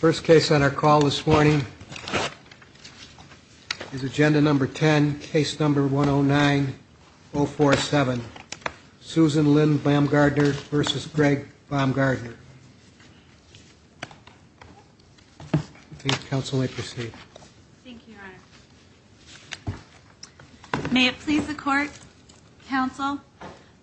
First case on our call this morning is agenda number 10, case number 109047. Susan Lynn Baumgartner v. Greg Baumgartner. I think counsel may proceed. Thank you, your honor. May it please the court, counsel.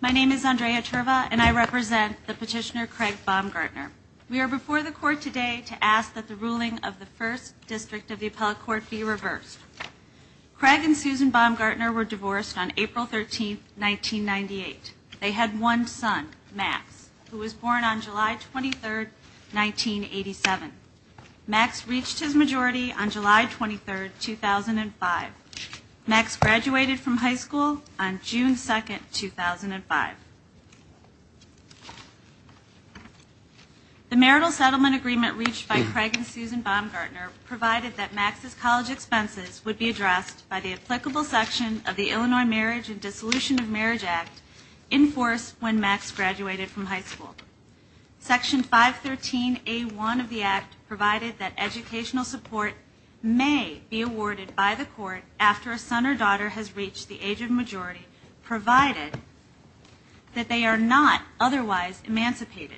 My name is Andrea Cherva, and I represent the petitioner, Craig Baumgartner. We are before the court today to ask that the ruling of the first district of the appellate court be reversed. Craig and Susan Baumgartner were divorced on April 13, 1998. They had one son, Max, who was born on July 23, 1987. Max reached his majority on July 23, 2005. Max graduated from high school on June 2, 2005. The marital settlement agreement reached by Craig and Susan Baumgartner provided that Max's college expenses would be addressed by the applicable section of the Illinois Marriage and Dissolution of Marriage Act in force when Max graduated from high school. Section 513A1 of the act provided that educational support may be awarded by the court after a son or daughter has reached the age of majority, provided that they are not otherwise emancipated.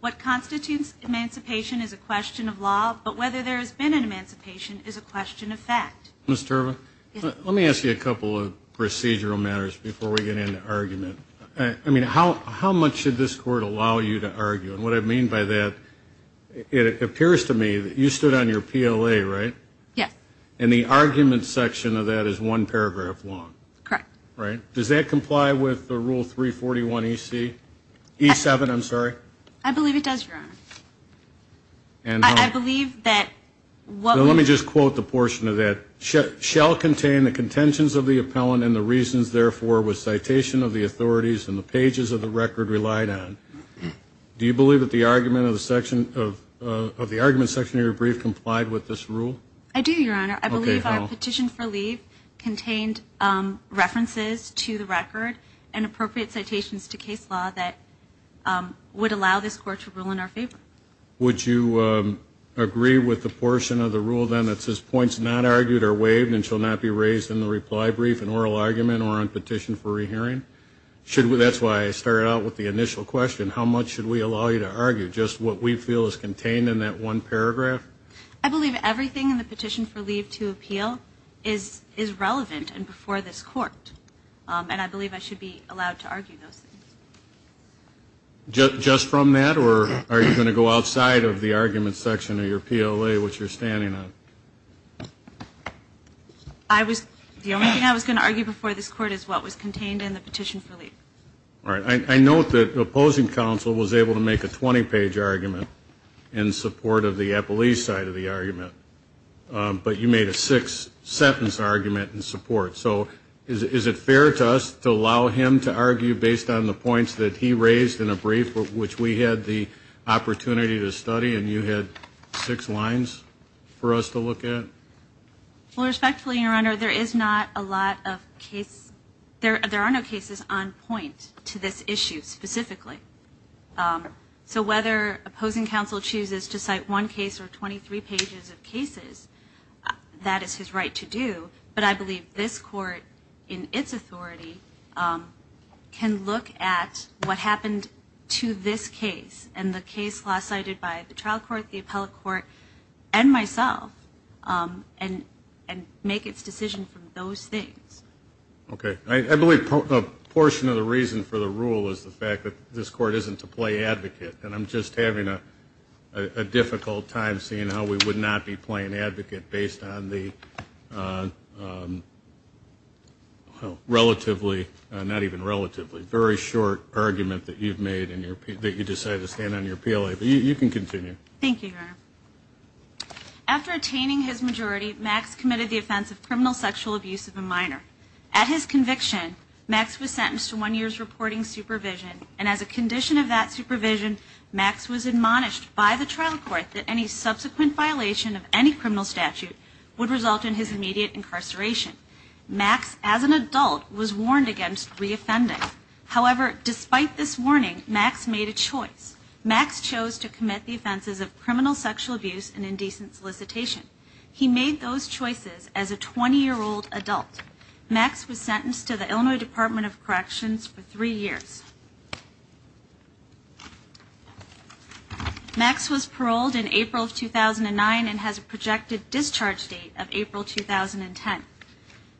What constitutes emancipation is a question of law, but whether there has been an emancipation is a question of fact. Ms. Cherva, let me ask you a couple of procedural matters before we get into argument. I mean, how much should this court allow you to argue? And what I mean by that, it appears to me that you stood on your PLA, right? Yes. And the argument section of that is one paragraph long. Correct. Right? Does that comply with the Rule 341E7? I believe it does, Your Honor. And how? I believe that what we're- Well, let me just quote the portion of that. Shall contain the contentions of the appellant and the reasons, therefore, with citation of the authorities and the pages of the record relied on. Do you believe that the argument section of your brief complied with this rule? I do, Your Honor. I believe our petition for leave contained references to the record and appropriate citations to case law that would allow this court to rule in our favor. Would you agree with the portion of the rule, then, that says points not argued are waived and shall not be raised in the reply brief in oral argument or on petition for rehearing? That's why I started out with the initial question. How much should we allow you to argue? Just what we feel is contained in that one paragraph? I believe everything in the petition for leave to appeal is relevant and before this court. And I believe I should be allowed to argue those things. Just from that, or are you going to go outside of the argument section of your PLA, which you're standing on? The only thing I was going to argue before this court is what was contained in the petition for leave. All right. I note that the opposing counsel was able to make a 20-page argument in support of the appellee's side of the argument, but you made a six-sentence argument in support. So is it fair to us to allow him to argue based on the points that he raised in a brief, which we had the opportunity to study and you had six lines for us to look at? Well, respectfully, Your Honor, there is not a lot of case. There are no cases on point to this issue specifically. So whether opposing counsel chooses to cite one case or 23 pages of cases, that is his right to do. But I believe this court, in its authority, can look at what happened to this case and the case last cited by the trial court, the appellate court, and myself and make its decision from those things. Okay. I believe a portion of the reason for the rule is the fact that this court isn't to play advocate, and I'm just having a difficult time seeing how we would not be playing advocate based on the relatively, not even relatively, very short argument that you decided to stand on your PLA. But you can continue. Thank you, Your Honor. After attaining his majority, Max committed the offense of criminal sexual abuse of a minor. At his conviction, Max was sentenced to one year's reporting supervision, and as a condition of that supervision, Max was admonished by the trial court that any subsequent violation of any criminal statute would result in his immediate incarceration. Max, as an adult, was warned against reoffending. However, despite this warning, Max made a choice. Max chose to commit the offenses of criminal sexual abuse and indecent solicitation. He made those choices as a 20-year-old adult. Max was sentenced to the Illinois Department of Corrections for three years. Max was paroled in April of 2009 and has a projected discharge date of April 2010.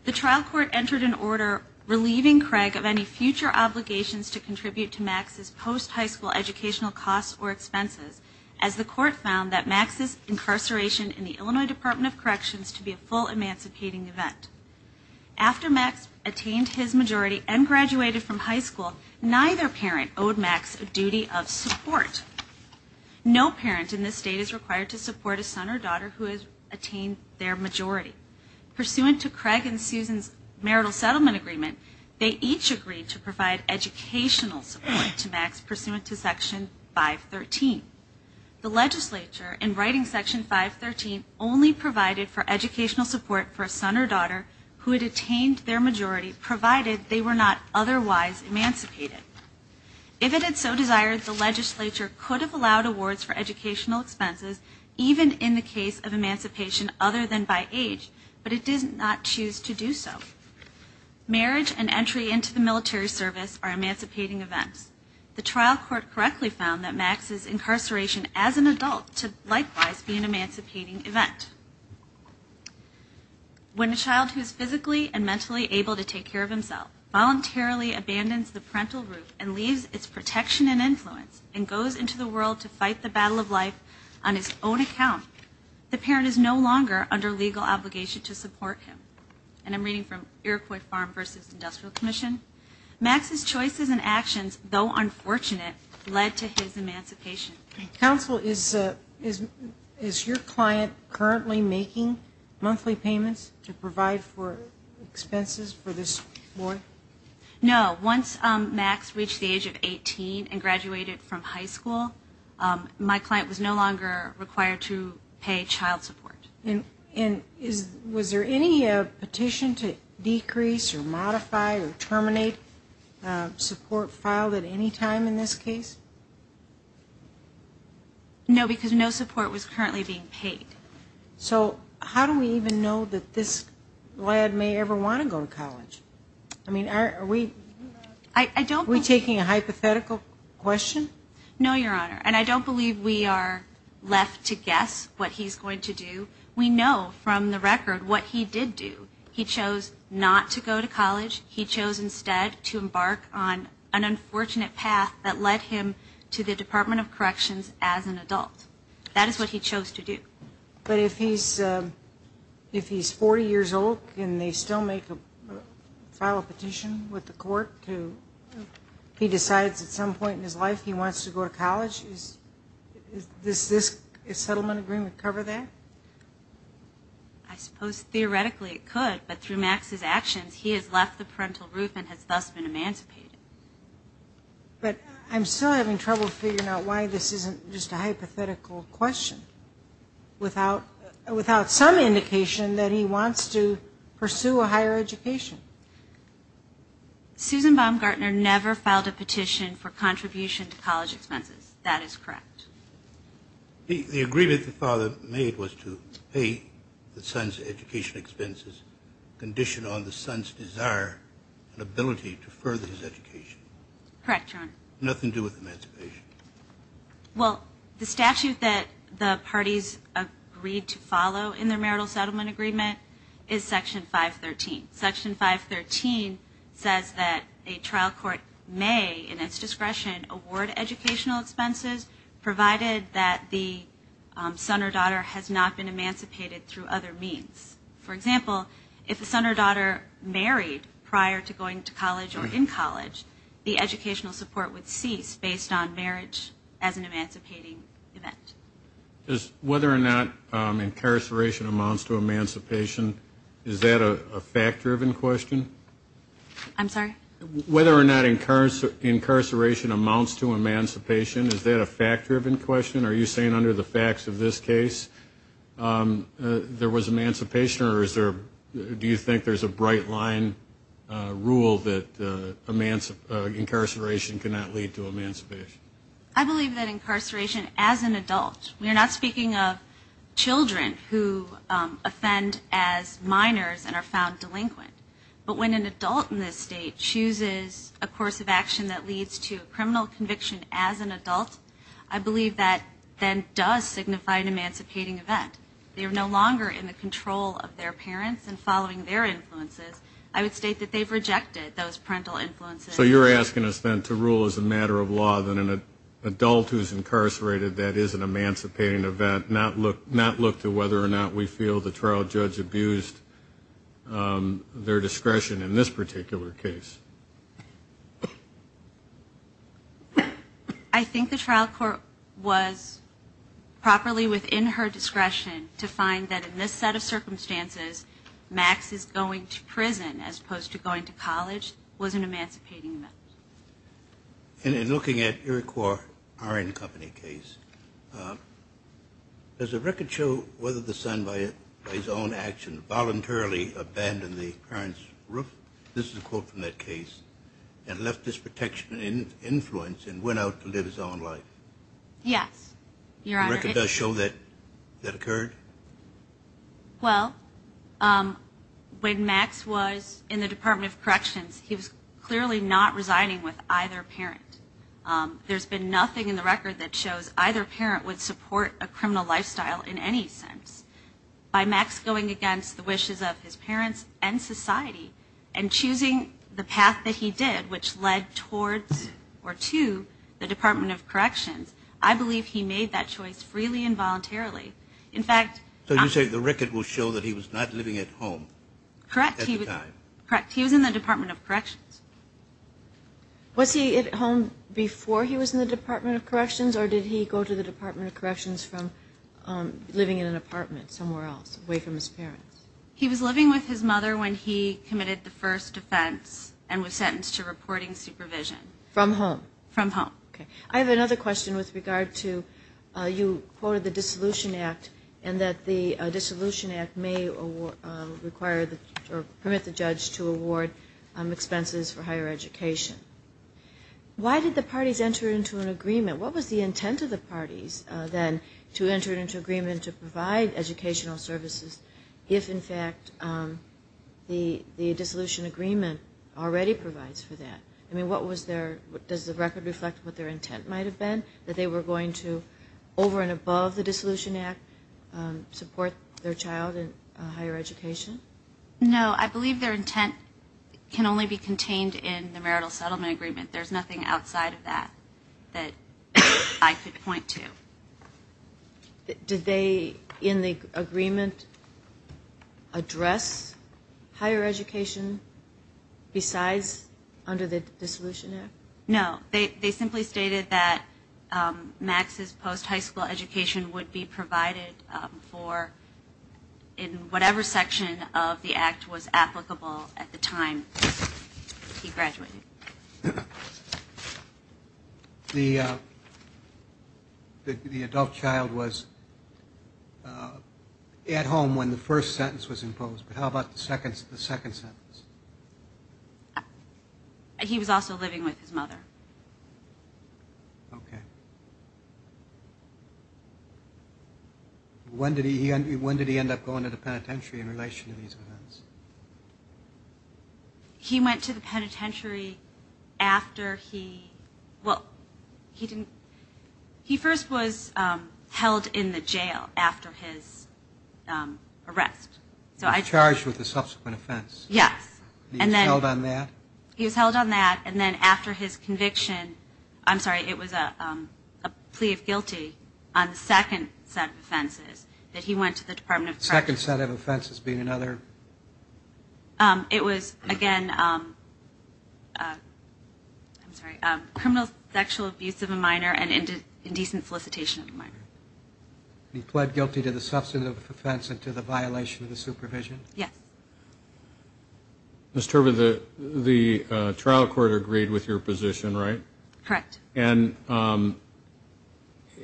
The trial court entered an order relieving Craig of any future obligations to contribute to Max's post-high school educational costs or expenses, as the court found that Max's incarceration in the Illinois Department of Corrections to be a full emancipating event. After Max attained his majority and graduated from high school, neither parent owed Max a duty of support. No parent in this state is required to support a son or daughter who has attained their majority. Pursuant to Craig and Susan's marital settlement agreement, they each agreed to provide educational support to Max pursuant to Section 513. The legislature, in writing Section 513, only provided for educational support for a son or daughter who had attained their majority, provided they were not otherwise emancipated. If it had so desired, the legislature could have allowed awards for educational expenses, even in the case of emancipation other than by age, but it did not choose to do so. Marriage and entry into the military service are emancipating events. The trial court correctly found that Max's incarceration as an adult to likewise be an emancipating event. When a child who is physically and mentally able to take care of himself voluntarily abandons the parental roof and leaves its protection and influence and goes into the world to fight the battle of life on his own account, the parent is no longer under legal obligation to support him. And I'm reading from Iroquois Farm v. Industrial Commission. Max's choices and actions, though unfortunate, led to his emancipation. Counsel, is your client currently making monthly payments to provide for expenses for this boy? No. Once Max reached the age of 18 and graduated from high school, my client was no longer required to pay child support. And was there any petition to decrease or modify or terminate support filed at any time in this case? No, because no support was currently being paid. So how do we even know that this lad may ever want to go to college? I mean, are we taking a hypothetical question? No, Your Honor, and I don't believe we are left to guess what he's going to do. We know from the record what he did do. He chose not to go to college. He chose instead to embark on an unfortunate path that led him to the Department of Corrections as an adult. That is what he chose to do. But if he's 40 years old and they still file a petition with the court, he decides at some point in his life he wants to go to college, does this settlement agreement cover that? I suppose theoretically it could, but through Max's actions, he has left the parental roof and has thus been emancipated. But I'm still having trouble figuring out why this isn't just a hypothetical question without some indication that he wants to pursue a higher education. Susan Baumgartner never filed a petition for contribution to college expenses. That is correct. The agreement the father made was to pay the son's education expenses conditioned on the son's desire and ability to further his education. Correct, Your Honor. Nothing to do with emancipation. Well, the statute that the parties agreed to follow in their marital settlement agreement is Section 513. Section 513 says that a trial court may, in its discretion, award educational expenses provided that the son or daughter has not been emancipated through other means. For example, if the son or daughter married prior to going to college or in college, the educational support would cease based on marriage as an emancipating event. Whether or not incarceration amounts to emancipation, is that a fact-driven question? I'm sorry? Whether or not incarceration amounts to emancipation, is that a fact-driven question? Are you saying under the facts of this case there was emancipation or do you think there's a bright line rule that incarceration cannot lead to emancipation? I believe that incarceration as an adult, we are not speaking of children who offend as minors and are found delinquent, but when an adult in this state chooses a course of action that leads to a criminal conviction as an adult, I believe that then does signify an emancipating event. They are no longer in the control of their parents and following their influences. I would state that they've rejected those parental influences. So you're asking us then to rule as a matter of law that an adult who's incarcerated, that is an emancipating event, not look to whether or not we feel the trial judge abused their discretion in this particular case. I think the trial court was properly within her discretion to find that in this set of circumstances Max is going to prison as opposed to going to college which was an emancipating event. In looking at Iroquois Iron Company case, does the record show whether the son by his own action voluntarily abandoned the parents' roof, this is a quote from that case, and left his protection and influence and went out to live his own life? Yes, Your Honor. The record does show that that occurred? Well, when Max was in the Department of Corrections, he was clearly not resigning with either parent. There's been nothing in the record that shows either parent would support a criminal lifestyle in any sense. By Max going against the wishes of his parents and society and choosing the path that he did which led towards or to the Department of Corrections, I believe he made that choice freely and voluntarily. In fact, So you say the record will show that he was not living at home at the time? Correct. He was in the Department of Corrections. Was he at home before he was in the Department of Corrections or did he go to the Department of Corrections from living in an apartment somewhere else away from his parents? He was living with his mother when he committed the first offense and was sentenced to reporting supervision. From home? From home. Okay. I have another question with regard to you quoted the Dissolution Act and that the Dissolution Act may permit the judge to award expenses for higher education. Why did the parties enter into an agreement? What was the intent of the parties then to enter into agreement to provide educational services if, in fact, the dissolution agreement already provides for that? Does the record reflect what their intent might have been, that they were going to, over and above the Dissolution Act, support their child in higher education? No. I believe their intent can only be contained in the marital settlement agreement. There's nothing outside of that that I could point to. Did they, in the agreement, address higher education besides under the Dissolution Act? No. They simply stated that Max's post-high school education would be provided for in whatever section of the Act was applicable at the time he graduated. Okay. The adult child was at home when the first sentence was imposed, but how about the second sentence? He was also living with his mother. Okay. When did he end up going to the penitentiary in relation to these events? He went to the penitentiary after he, well, he didn't, he first was held in the jail after his arrest. He was charged with a subsequent offense. Yes. He was held on that? He was held on that, and then after his conviction, I'm sorry, it was a plea of guilty on the second set of offenses that he went to the Department of Corrections. The second set of offenses being another? It was, again, I'm sorry, criminal sexual abuse of a minor and indecent solicitation of a minor. He pled guilty to the substantive offense and to the violation of the supervision? Yes. Ms. Turbin, the trial court agreed with your position, right? Correct. And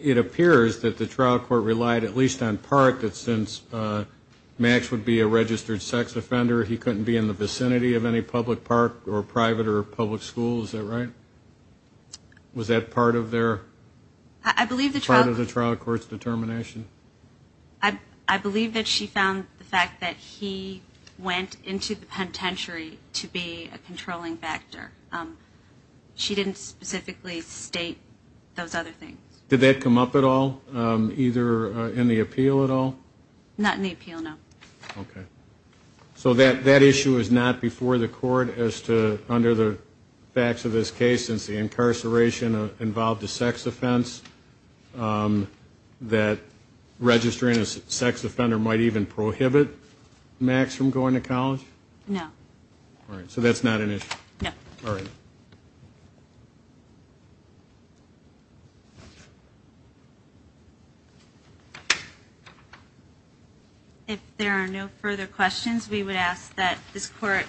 it appears that the trial court relied at least on part that since Max would be a registered sex offender, he couldn't be in the vicinity of any public park or private or public school. Is that right? Was that part of their? I believe the trial. Part of the trial court's determination? I believe that she found the fact that he went into the penitentiary to be a controlling factor. She didn't specifically state those other things. Did that come up at all, either in the appeal at all? Not in the appeal, no. Okay. So that issue is not before the court as to, under the facts of this case, since the incarceration involved a sex offense, that registering a sex offender might even prohibit Max from going to college? No. All right. So that's not an issue? No. All right. If there are no further questions, we would ask that this court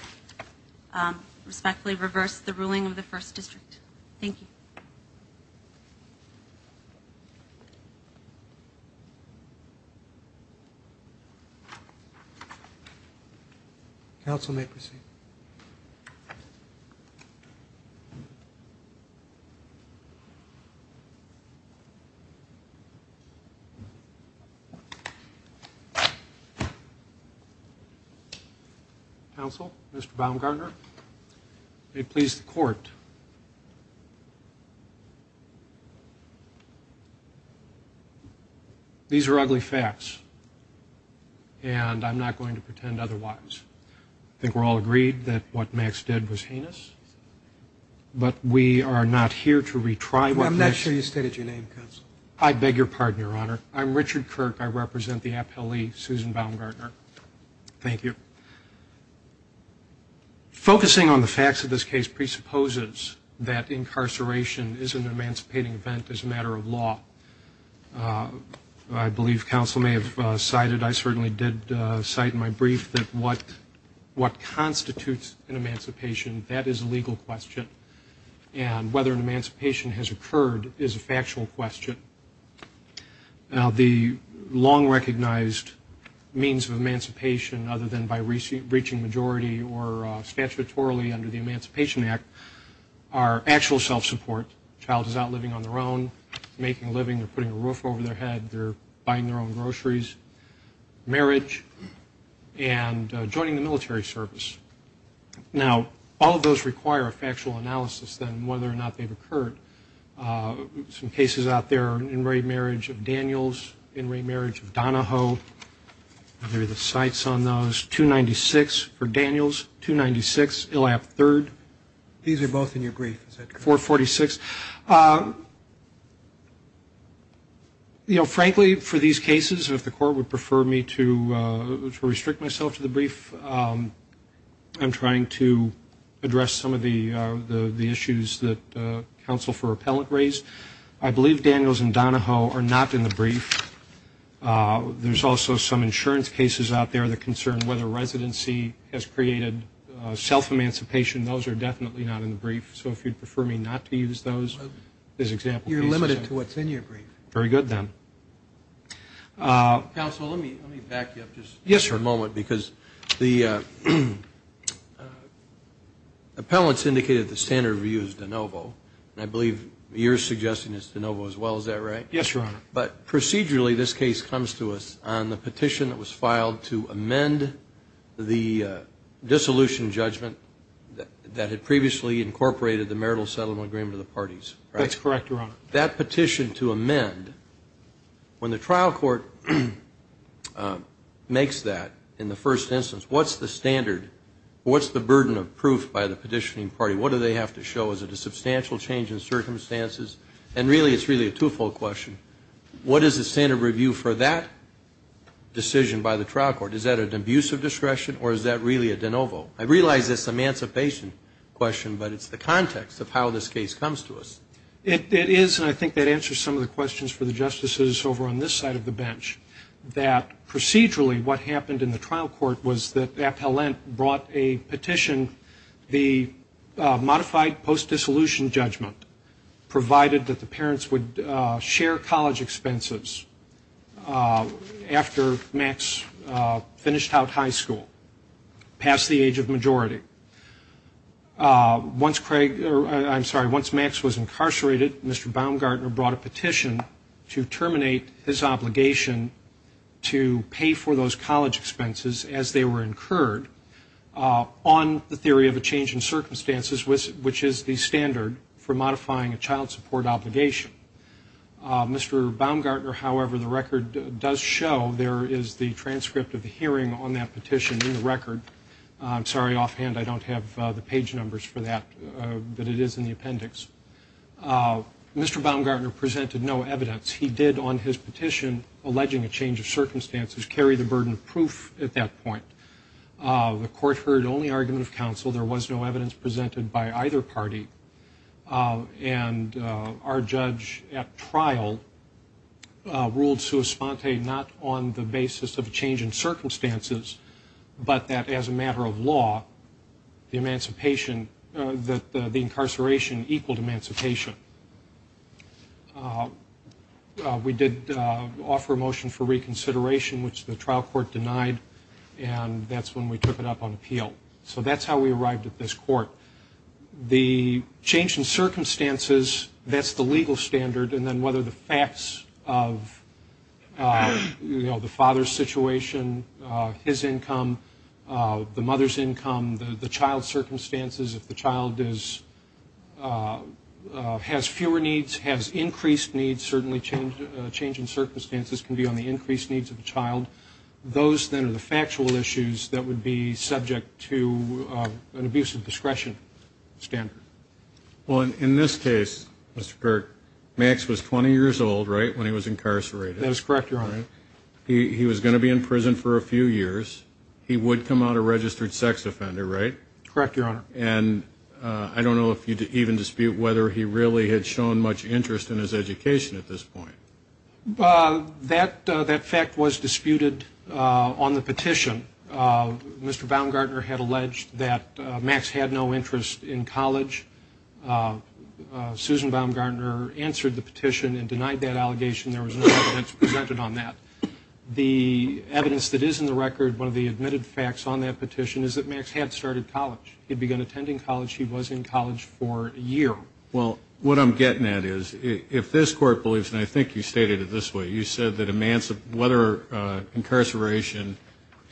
respectfully reverse the ruling of the first district. Thank you. Thank you. Counsel may proceed. Counsel, Mr. Baumgartner. May it please the court. These are ugly facts, and I'm not going to pretend otherwise. I think we're all agreed that what Max did was heinous, but we are not here to retry what Max did. I'm not sure you stated your name, counsel. I beg your pardon, Your Honor. I'm Richard Kirk. I represent the appellee, Susan Baumgartner. Thank you. Focusing on the facts of this case presupposes that incarceration is an emancipating event as a matter of law. I believe counsel may have cited, I certainly did cite in my brief, that what constitutes an emancipation, that is a legal question, and whether an emancipation has occurred is a factual question. Now, the long-recognized means of emancipation, other than by reaching majority or statutorily under the Emancipation Act, are actual self-support. A child is out living on their own, making a living, they're putting a roof over their head, they're buying their own groceries, marriage, and joining the military service. Now, all of those require a factual analysis, then, whether or not they've occurred. Some cases out there are an in-rate marriage of Daniels, in-rate marriage of Donahoe. There are the cites on those. 296 for Daniels, 296 ILAP III. These are both in your brief, is that correct? 446. You know, frankly, for these cases, if the court would prefer me to restrict myself to the brief, I'm trying to address some of the issues that counsel for appellate raised. I believe Daniels and Donahoe are not in the brief. There's also some insurance cases out there that concern whether residency has created self-emancipation. Those are definitely not in the brief. So if you'd prefer me not to use those as example pieces. You're limited to what's in your brief. Very good, then. Counsel, let me back you up just for a moment. Because the appellants indicated the standard view is Donovo, and I believe you're suggesting it's Donovo as well. Is that right? Yes, Your Honor. But procedurally, this case comes to us on the petition that was filed to amend the dissolution judgment that had previously incorporated the marital settlement agreement of the parties. That's correct, Your Honor. That petition to amend, when the trial court makes that in the first instance, what's the standard? What's the burden of proof by the petitioning party? What do they have to show? Is it a substantial change in circumstances? And really, it's really a two-fold question. What is the standard review for that decision by the trial court? Is that an abuse of discretion, or is that really a Donovo? I realize it's an emancipation question, but it's the context of how this case comes to us. It is, and I think that answers some of the questions for the justices over on this side of the bench, that procedurally what happened in the trial court was that appellant brought a petition, the modified post-dissolution judgment provided that the parents would share college expenses after Max finished out high school, past the age of majority. Once Craig, I'm sorry, once Max was incarcerated, Mr. Baumgartner brought a petition to terminate his obligation to pay for those college expenses as they were incurred on the theory of a change in circumstances, which is the standard for modifying a child support obligation. Mr. Baumgartner, however, the record does show there is the transcript of the hearing on that petition in the record. I'm sorry, offhand, I don't have the page numbers for that, but it is in the appendix. Mr. Baumgartner presented no evidence. He did on his petition, alleging a change of circumstances, carry the burden of proof at that point. The court heard only argument of counsel. There was no evidence presented by either party, and our judge at trial ruled sua sponte not on the basis of a change in circumstances, but that as a matter of law, the incarceration equaled emancipation. We did offer a motion for reconsideration, which the trial court denied, and that's when we took it up on appeal. So that's how we arrived at this court. The change in circumstances, that's the legal standard, and then whether the facts of the father's situation, his income, the mother's income, the child's circumstances. If the child has fewer needs, has increased needs, certainly a change in circumstances can be on the increased needs of the child. Those then are the factual issues that would be subject to an abuse of discretion standard. Well, in this case, Mr. Burke, Max was 20 years old, right, when he was incarcerated? That is correct, Your Honor. He was going to be in prison for a few years. He would come out a registered sex offender, right? Correct, Your Honor. And I don't know if you even dispute whether he really had shown much interest in his education at this point. That fact was disputed on the petition. Mr. Baumgartner had alleged that Max had no interest in college. Susan Baumgartner answered the petition and denied that allegation. There was no evidence presented on that. The evidence that is in the record, one of the admitted facts on that petition, is that Max had started college. He had begun attending college. He was in college for a year. Well, what I'm getting at is if this court believes, and I think you stated it this way, you said that whether incarceration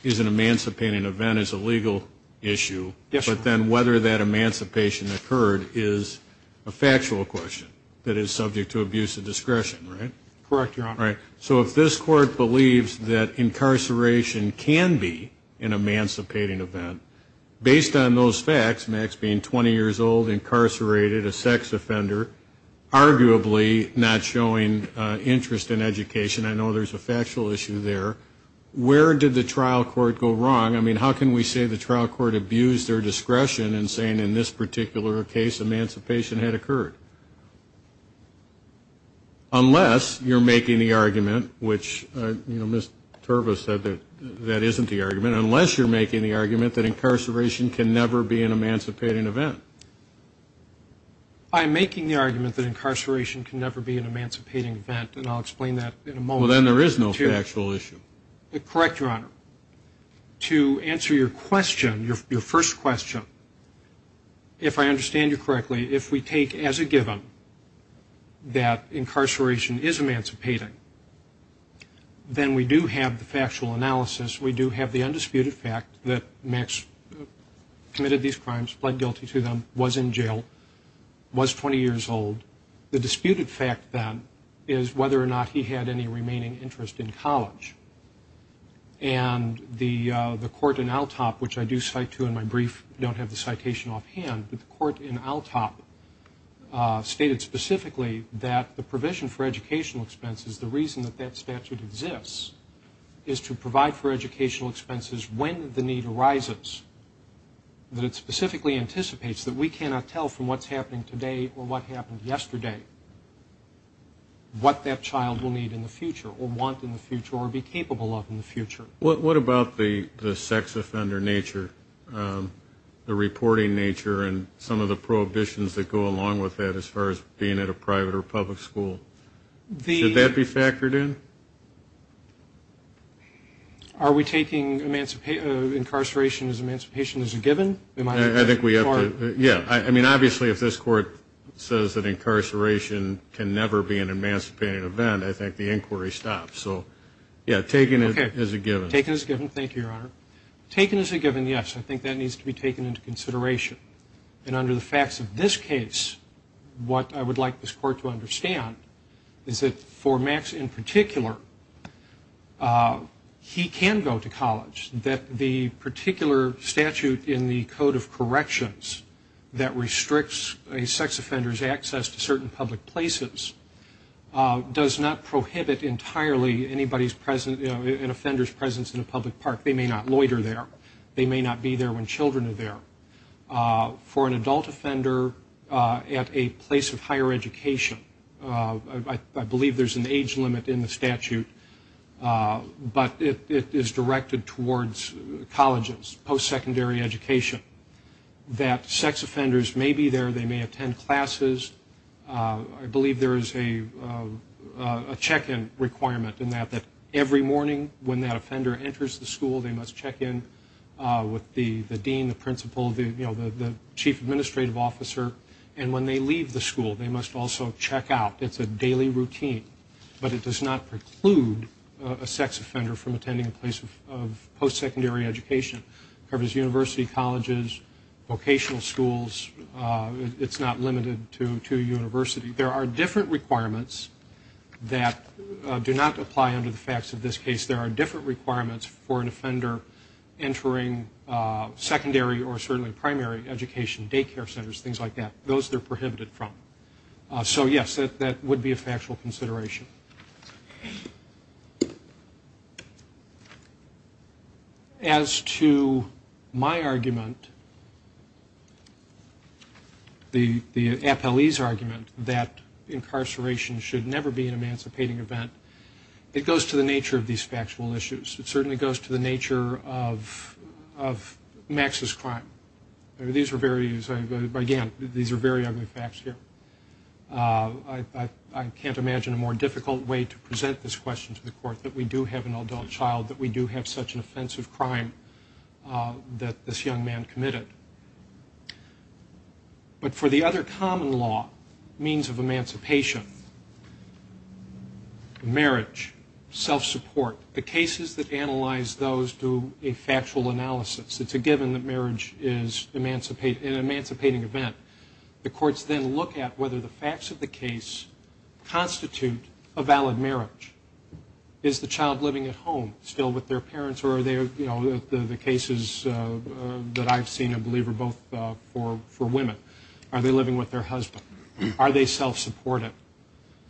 is an emancipating event is a legal issue, but then whether that emancipation occurred is a factual question that is subject to abuse of discretion, right? Correct, Your Honor. So if this court believes that incarceration can be an emancipating event, based on those facts, Max being 20 years old, incarcerated, a sex offender, arguably not showing interest in education, I know there's a factual issue there, where did the trial court go wrong? I mean, how can we say the trial court abused their discretion in saying in this particular case, emancipation had occurred? Unless you're making the argument, which, you know, Ms. Terva said that that isn't the argument, unless you're making the argument that incarceration can never be an emancipating event. I'm making the argument that incarceration can never be an emancipating event, and I'll explain that in a moment. Well, then there is no factual issue. Correct, Your Honor. To answer your question, your first question, if I understand you correctly, if we take as a given that incarceration is emancipating, then we do have the factual analysis, we do have the undisputed fact that Max committed these crimes, pled guilty to them, was in jail, was 20 years old. The disputed fact, then, is whether or not he had any remaining interest in college. And the court in ALTOP, which I do cite to in my brief, don't have the citation offhand, but the court in ALTOP stated specifically that the provision for educational expenses, the reason that that statute exists, is to provide for educational expenses when the need arises, that it specifically anticipates that we cannot tell from what's happening today or what happened yesterday what that child will need in the future or want in the future or be capable of in the future. What about the sex offender nature, the reporting nature, and some of the prohibitions that go along with that as far as being at a private or public school? Should that be factored in? Are we taking incarceration as emancipation as a given? I think we have to, yeah. I mean, obviously, if this court says that incarceration can never be an emancipating event, I think the inquiry stops. So, yeah, taken as a given. Taken as a given. Thank you, Your Honor. Taken as a given, yes. I think that needs to be taken into consideration. And under the facts of this case, what I would like this court to understand is that for Max in particular, he can go to college, that the particular statute in the Code of Corrections that restricts a sex offender's access to certain public places does not prohibit entirely an offender's presence in a public park. They may not loiter there. They may not be there when children are there. For an adult offender at a place of higher education, I believe there's an age limit in the statute, but it is directed towards colleges, post-secondary education, that sex offenders may be there, they may attend classes. I believe there is a check-in requirement in that, that every morning when that offender enters the school, they must check in with the dean, the principal, the chief administrative officer. And when they leave the school, they must also check out. It's a daily routine, but it does not preclude a sex offender from attending a place of post-secondary education. It covers university colleges, vocational schools. It's not limited to a university. There are different requirements that do not apply under the facts of this case. There are different requirements for an offender entering secondary or certainly primary education, daycare centers, things like that, those they're prohibited from. So, yes, that would be a factual consideration. As to my argument, the appellee's argument, that incarceration should never be an emancipating event, it goes to the nature of these factual issues. It certainly goes to the nature of Max's crime. These are very, again, these are very ugly facts here. I can't imagine a more difficult way to present this question to the court, that we do have an adult child, that we do have such an offensive crime that this young man committed. But for the other common law, means of emancipation, marriage, self-support, the cases that analyze those do a factual analysis. It's a given that marriage is an emancipating event. The courts then look at whether the facts of the case constitute a valid marriage. Is the child living at home still with their parents, or are they, you know, the cases that I've seen, I believe, are both for women. Are they living with their husband? Are they self-supporting?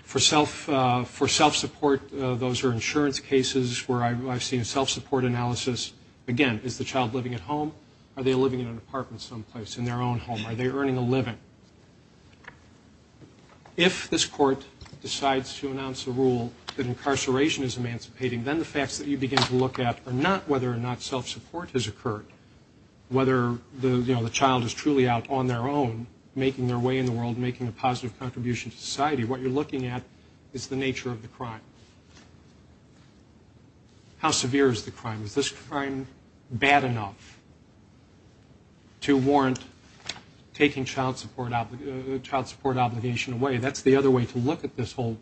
For self-support, those are insurance cases where I've seen a self-support analysis. Again, is the child living at home? Are they living in an apartment someplace, in their own home? Are they earning a living? If this court decides to announce a rule that incarceration is emancipating, then the facts that you begin to look at are not whether or not self-support has occurred, whether, you know, the child is truly out on their own, making their way in the world, making a positive contribution to society. What you're looking at is the nature of the crime. How severe is the crime? Is this crime bad enough to warrant taking child support obligation away? That's the other way to look at this whole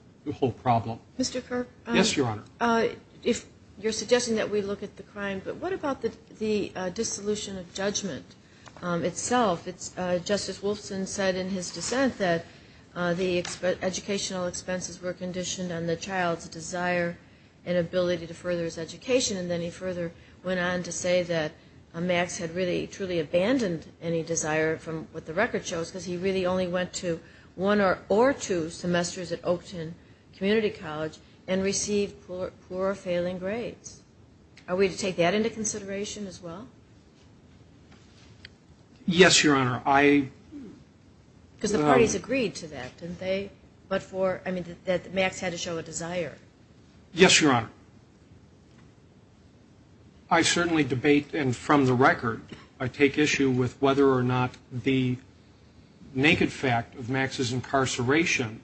problem. Mr. Kirk? Yes, Your Honor. If you're suggesting that we look at the crime, but what about the dissolution of judgment itself? Justice Wolfson said in his dissent that the educational expenses were conditioned on the child's desire and ability to further his education, and then he further went on to say that Max had really truly abandoned any desire from what the record shows, because he really only went to one or two semesters at Oakton Community College and received poor or failing grades. Are we to take that into consideration as well? Yes, Your Honor. Because the parties agreed to that, didn't they? That Max had to show a desire. Yes, Your Honor. I certainly debate, and from the record, I take issue with whether or not the naked fact of Max's incarceration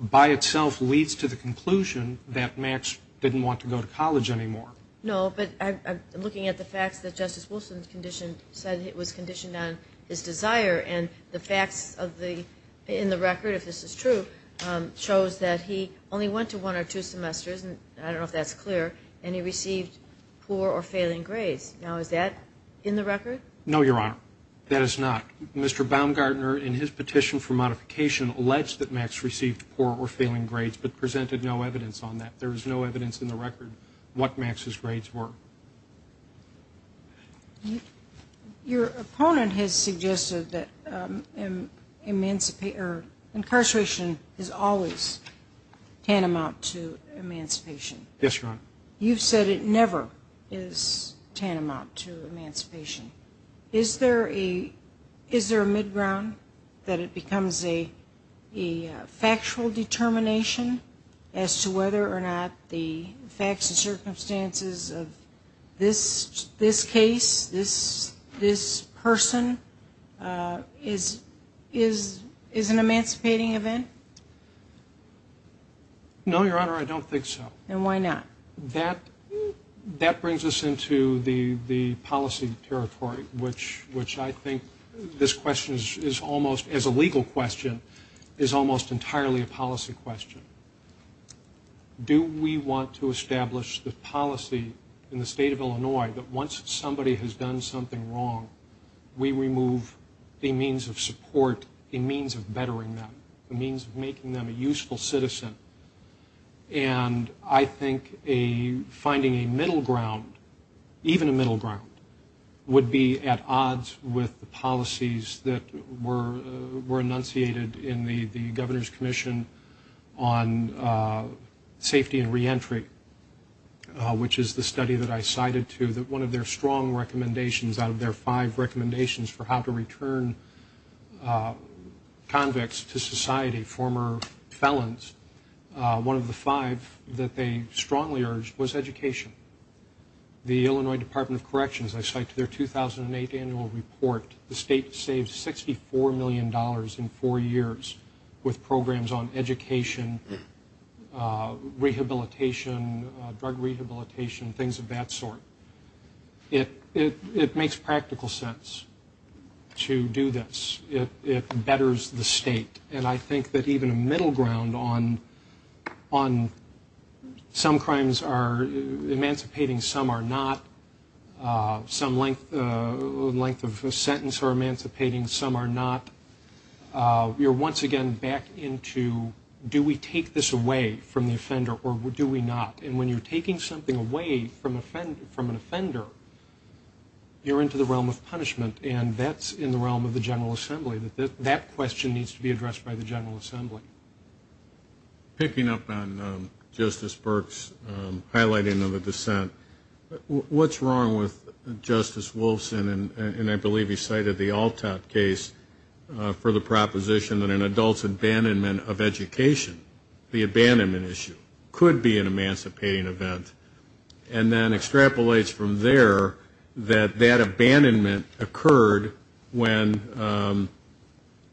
by itself leads to the conclusion that Max didn't want to go to college anymore. No, but I'm looking at the facts that Justice Wolfson said it was conditioned on his desire, and the facts in the record, if this is true, shows that he only went to one or two semesters, and I don't know if that's clear, and he received poor or failing grades. Now, is that in the record? No, Your Honor. That is not. Mr. Baumgartner, in his petition for modification, alleged that Max received poor or failing grades but presented no evidence on that. There is no evidence in the record what Max's grades were. Your opponent has suggested that incarceration is always tantamount to emancipation. Yes, Your Honor. You've said it never is tantamount to emancipation. Is there a mid-ground that it becomes a factual determination as to whether or not the facts and circumstances of this case, this person, is an emancipating event? No, Your Honor, I don't think so. Then why not? That brings us into the policy territory, which I think this question is almost, as a legal question, is almost entirely a policy question. Do we want to establish the policy in the state of Illinois that once somebody has done something wrong, we remove a means of support, a means of bettering them, a means of making them a useful citizen? And I think finding a middle ground, even a middle ground, would be at odds with the policies that were enunciated in the Governor's Commission on Safety and Reentry, which is the study that I cited to that one of their strong recommendations, out of their five recommendations for how to return convicts to society, former felons, one of the five that they strongly urged was education. The Illinois Department of Corrections, I cite to their 2008 annual report, the state saved $64 million in four years with programs on education, rehabilitation, drug rehabilitation, things of that sort. It makes practical sense to do this. It betters the state. And I think that even a middle ground on some crimes are emancipating, some are not. Some length of sentence are emancipating, some are not. You're once again back into do we take this away from the offender or do we not? And when you're taking something away from an offender, you're into the realm of punishment, and that's in the realm of the General Assembly. That question needs to be addressed by the General Assembly. Picking up on Justice Burke's highlighting of the dissent, what's wrong with Justice Wolfson, and I believe he cited the Altop case for the proposition that an adult's abandonment of education, the abandonment issue, could be an emancipating event, and then extrapolates from there that that abandonment occurred when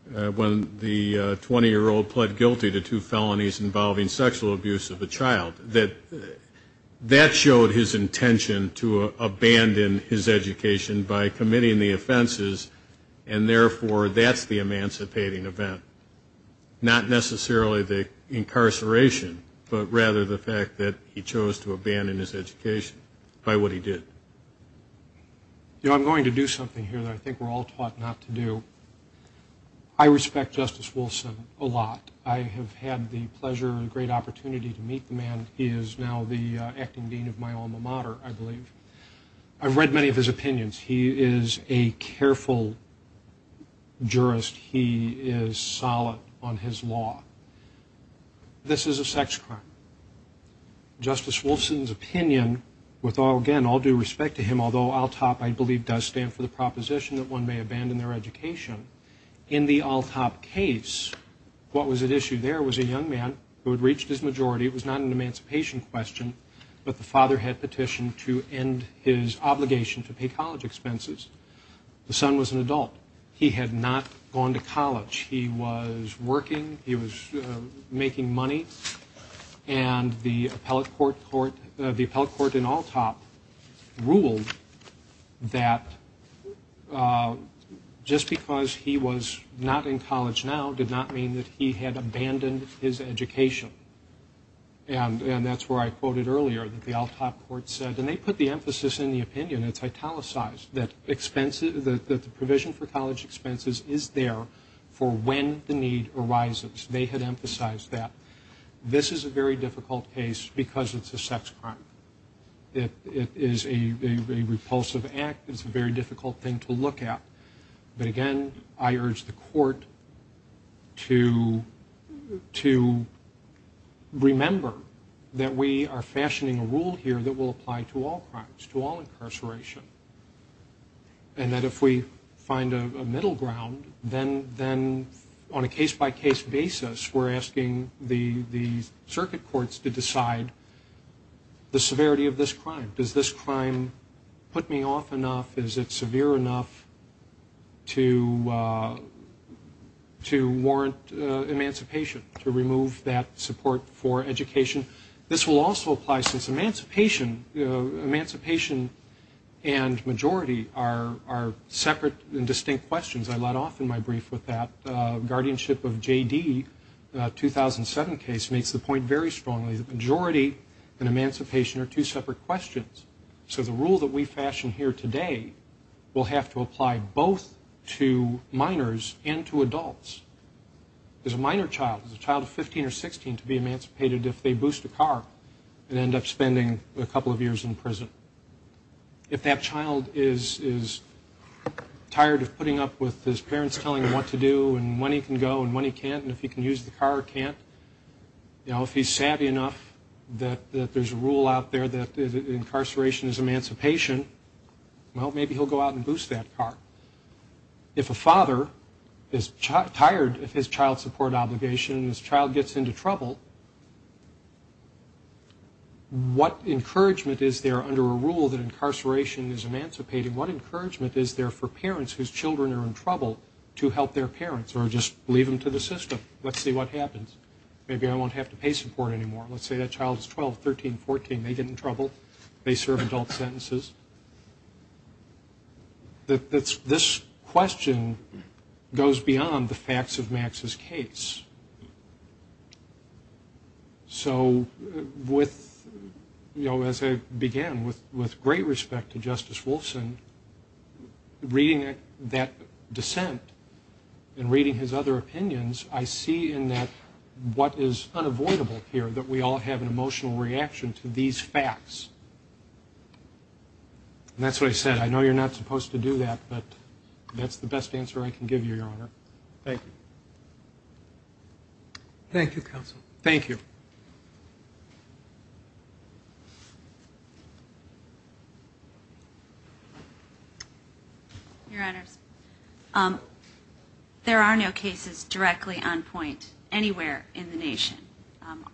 the 20-year-old pled guilty to two felonies involving sexual abuse of a child. That showed his intention to abandon his education by committing the offenses, and therefore that's the emancipating event, not necessarily the incarceration, but rather the fact that he chose to abandon his education by what he did. You know, I'm going to do something here that I think we're all taught not to do. I respect Justice Wolfson a lot. I have had the pleasure and great opportunity to meet the man. He is now the acting dean of my alma mater, I believe. I've read many of his opinions. He is a careful jurist. He is solid on his law. This is a sex crime. Justice Wolfson's opinion, with, again, all due respect to him, although Altop, I believe, does stand for the proposition that one may abandon their education, in the Altop case, what was at issue there was a young man who had reached his majority. It was not an emancipation question, but the father had petitioned to end his obligation to pay college expenses. The son was an adult. He had not gone to college. He was working. He was making money. And the appellate court in Altop ruled that just because he was not in college now did not mean that he had abandoned his education. And that's where I quoted earlier that the Altop court said, and they put the emphasis in the opinion, it's italicized, that the provision for college expenses is there for when the need arises. They had emphasized that. This is a very difficult case because it's a sex crime. It is a repulsive act. It's a very difficult thing to look at. But, again, I urge the court to remember that we are fashioning a rule here that will apply to all crimes, to all incarceration, and that if we find a middle ground, then on a case-by-case basis, we're asking the circuit courts to decide the severity of this crime. Does this crime put me off enough? Is it severe enough to warrant emancipation, to remove that support for education? This will also apply since emancipation and majority are separate and distinct questions. I let off in my brief with that guardianship of J.D. 2007 case makes the point very strongly that majority and emancipation are two separate questions. So the rule that we fashion here today will have to apply both to minors and to adults. Is a minor child, is a child of 15 or 16 to be emancipated if they boost a car and end up spending a couple of years in prison? If that child is tired of putting up with his parents telling him what to do and when he can go and when he can't and if he can use the car or can't, if he's savvy enough that there's a rule out there that incarceration is emancipation, well, maybe he'll go out and boost that car. If a father is tired of his child support obligation and his child gets into trouble, what encouragement is there under a rule that incarceration is emancipating? What encouragement is there for parents whose children are in trouble to help their parents or just leave them to the system? Let's see what happens. Maybe I won't have to pay support anymore. Let's say that child is 12, 13, 14. They get in trouble. They serve adult sentences. This question goes beyond the facts of Max's case. So with, you know, as I began with great respect to Justice Wolfson, reading that dissent and reading his other opinions, I see in that what is unavoidable here, that we all have an emotional reaction to these facts. And that's what I said. I know you're not supposed to do that, but that's the best answer I can give you, Your Honor. Thank you. Thank you, Counsel. Thank you. Your Honors, there are no cases directly on point anywhere in the nation.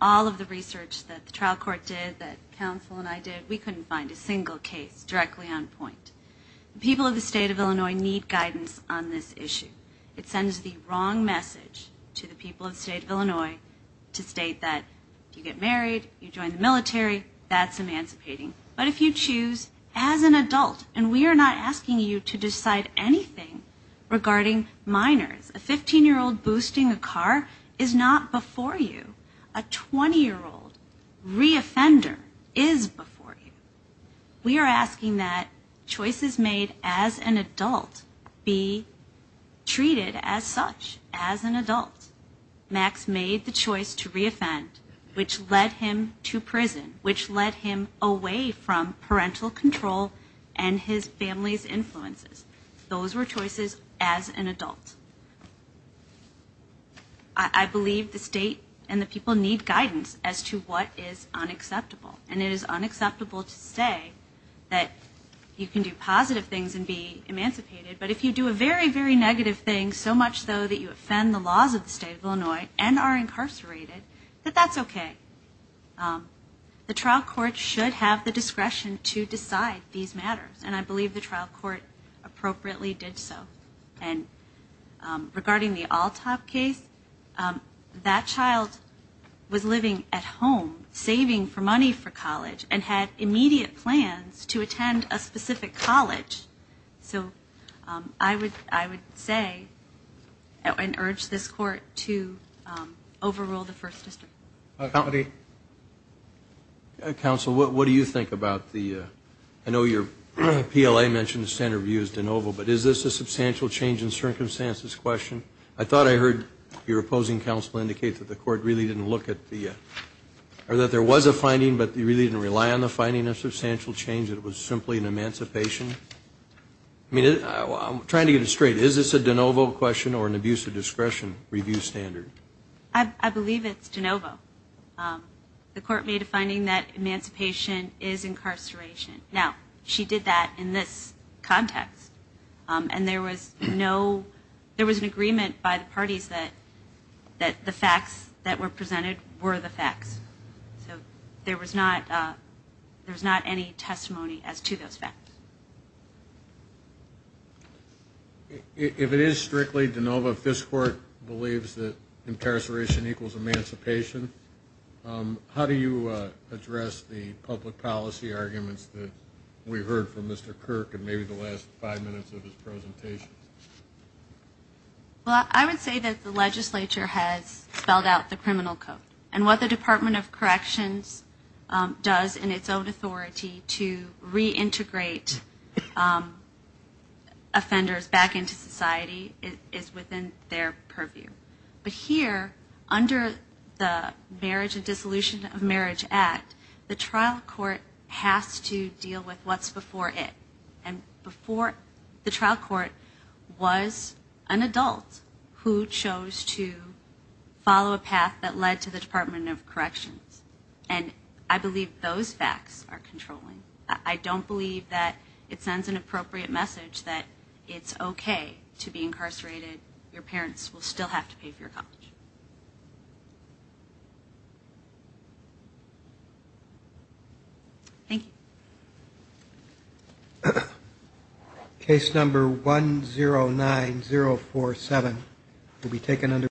All of the research that the trial court did, that Counsel and I did, we couldn't find a single case directly on point. The people of the state of Illinois need guidance on this issue. It sends the wrong message to the people of the state of Illinois to state that if you get married, you join the military, that's emancipating. But if you choose as an adult, and we are not asking you to decide anything regarding minors, a 15-year-old boosting a car is not before you. A 20-year-old reoffender is before you. We are asking that choices made as an adult be treated as such, as an adult. Max made the choice to reoffend, which led him to prison, which led him away from parental control and his family's influences. Those were choices as an adult. I believe the state and the people need guidance as to what is unacceptable, and it is unacceptable to say that you can do positive things and be emancipated, but if you do a very, very negative thing, so much so that you offend the laws of the state of Illinois and are incarcerated, that that's okay. The trial court should have the discretion to decide these matters, and I believe the trial court appropriately did so. And regarding the Alltop case, that child was living at home, saving for money for college, and had immediate plans to attend a specific college. So I would say and urge this court to overrule the First District. Counsel, what do you think about the, I know your PLA mentioned the standard review is de novo, but is this a substantial change in circumstances question? I thought I heard your opposing counsel indicate that the court really didn't look at the, or that there was a finding, but you really didn't rely on the finding of substantial change, that it was simply an emancipation. I'm trying to get it straight. Is this a de novo question or an abuse of discretion review standard? I believe it's de novo. The court made a finding that emancipation is incarceration. Now, she did that in this context, and there was no, there was an agreement by the parties that the facts that were presented were the facts. So there was not any testimony as to those facts. If it is strictly de novo, if this court believes that incarceration equals emancipation, how do you address the public policy arguments that we heard from Mr. Kirk in maybe the last five minutes of his presentation? Well, I would say that the legislature has spelled out the criminal code, and what the Department of Corrections does in its own authority to reintegrate offenders back into society is within their purview. But here, under the Marriage and Dissolution of Marriage Act, the trial court has to deal with what's before it. And before the trial court was an adult who chose to follow a path that led to the Department of Corrections. And I believe those facts are controlling. I don't believe that it sends an appropriate message that it's okay to be incarcerated. Your parents will still have to pay for your college. Thank you. Case number 109047 will be taken under review.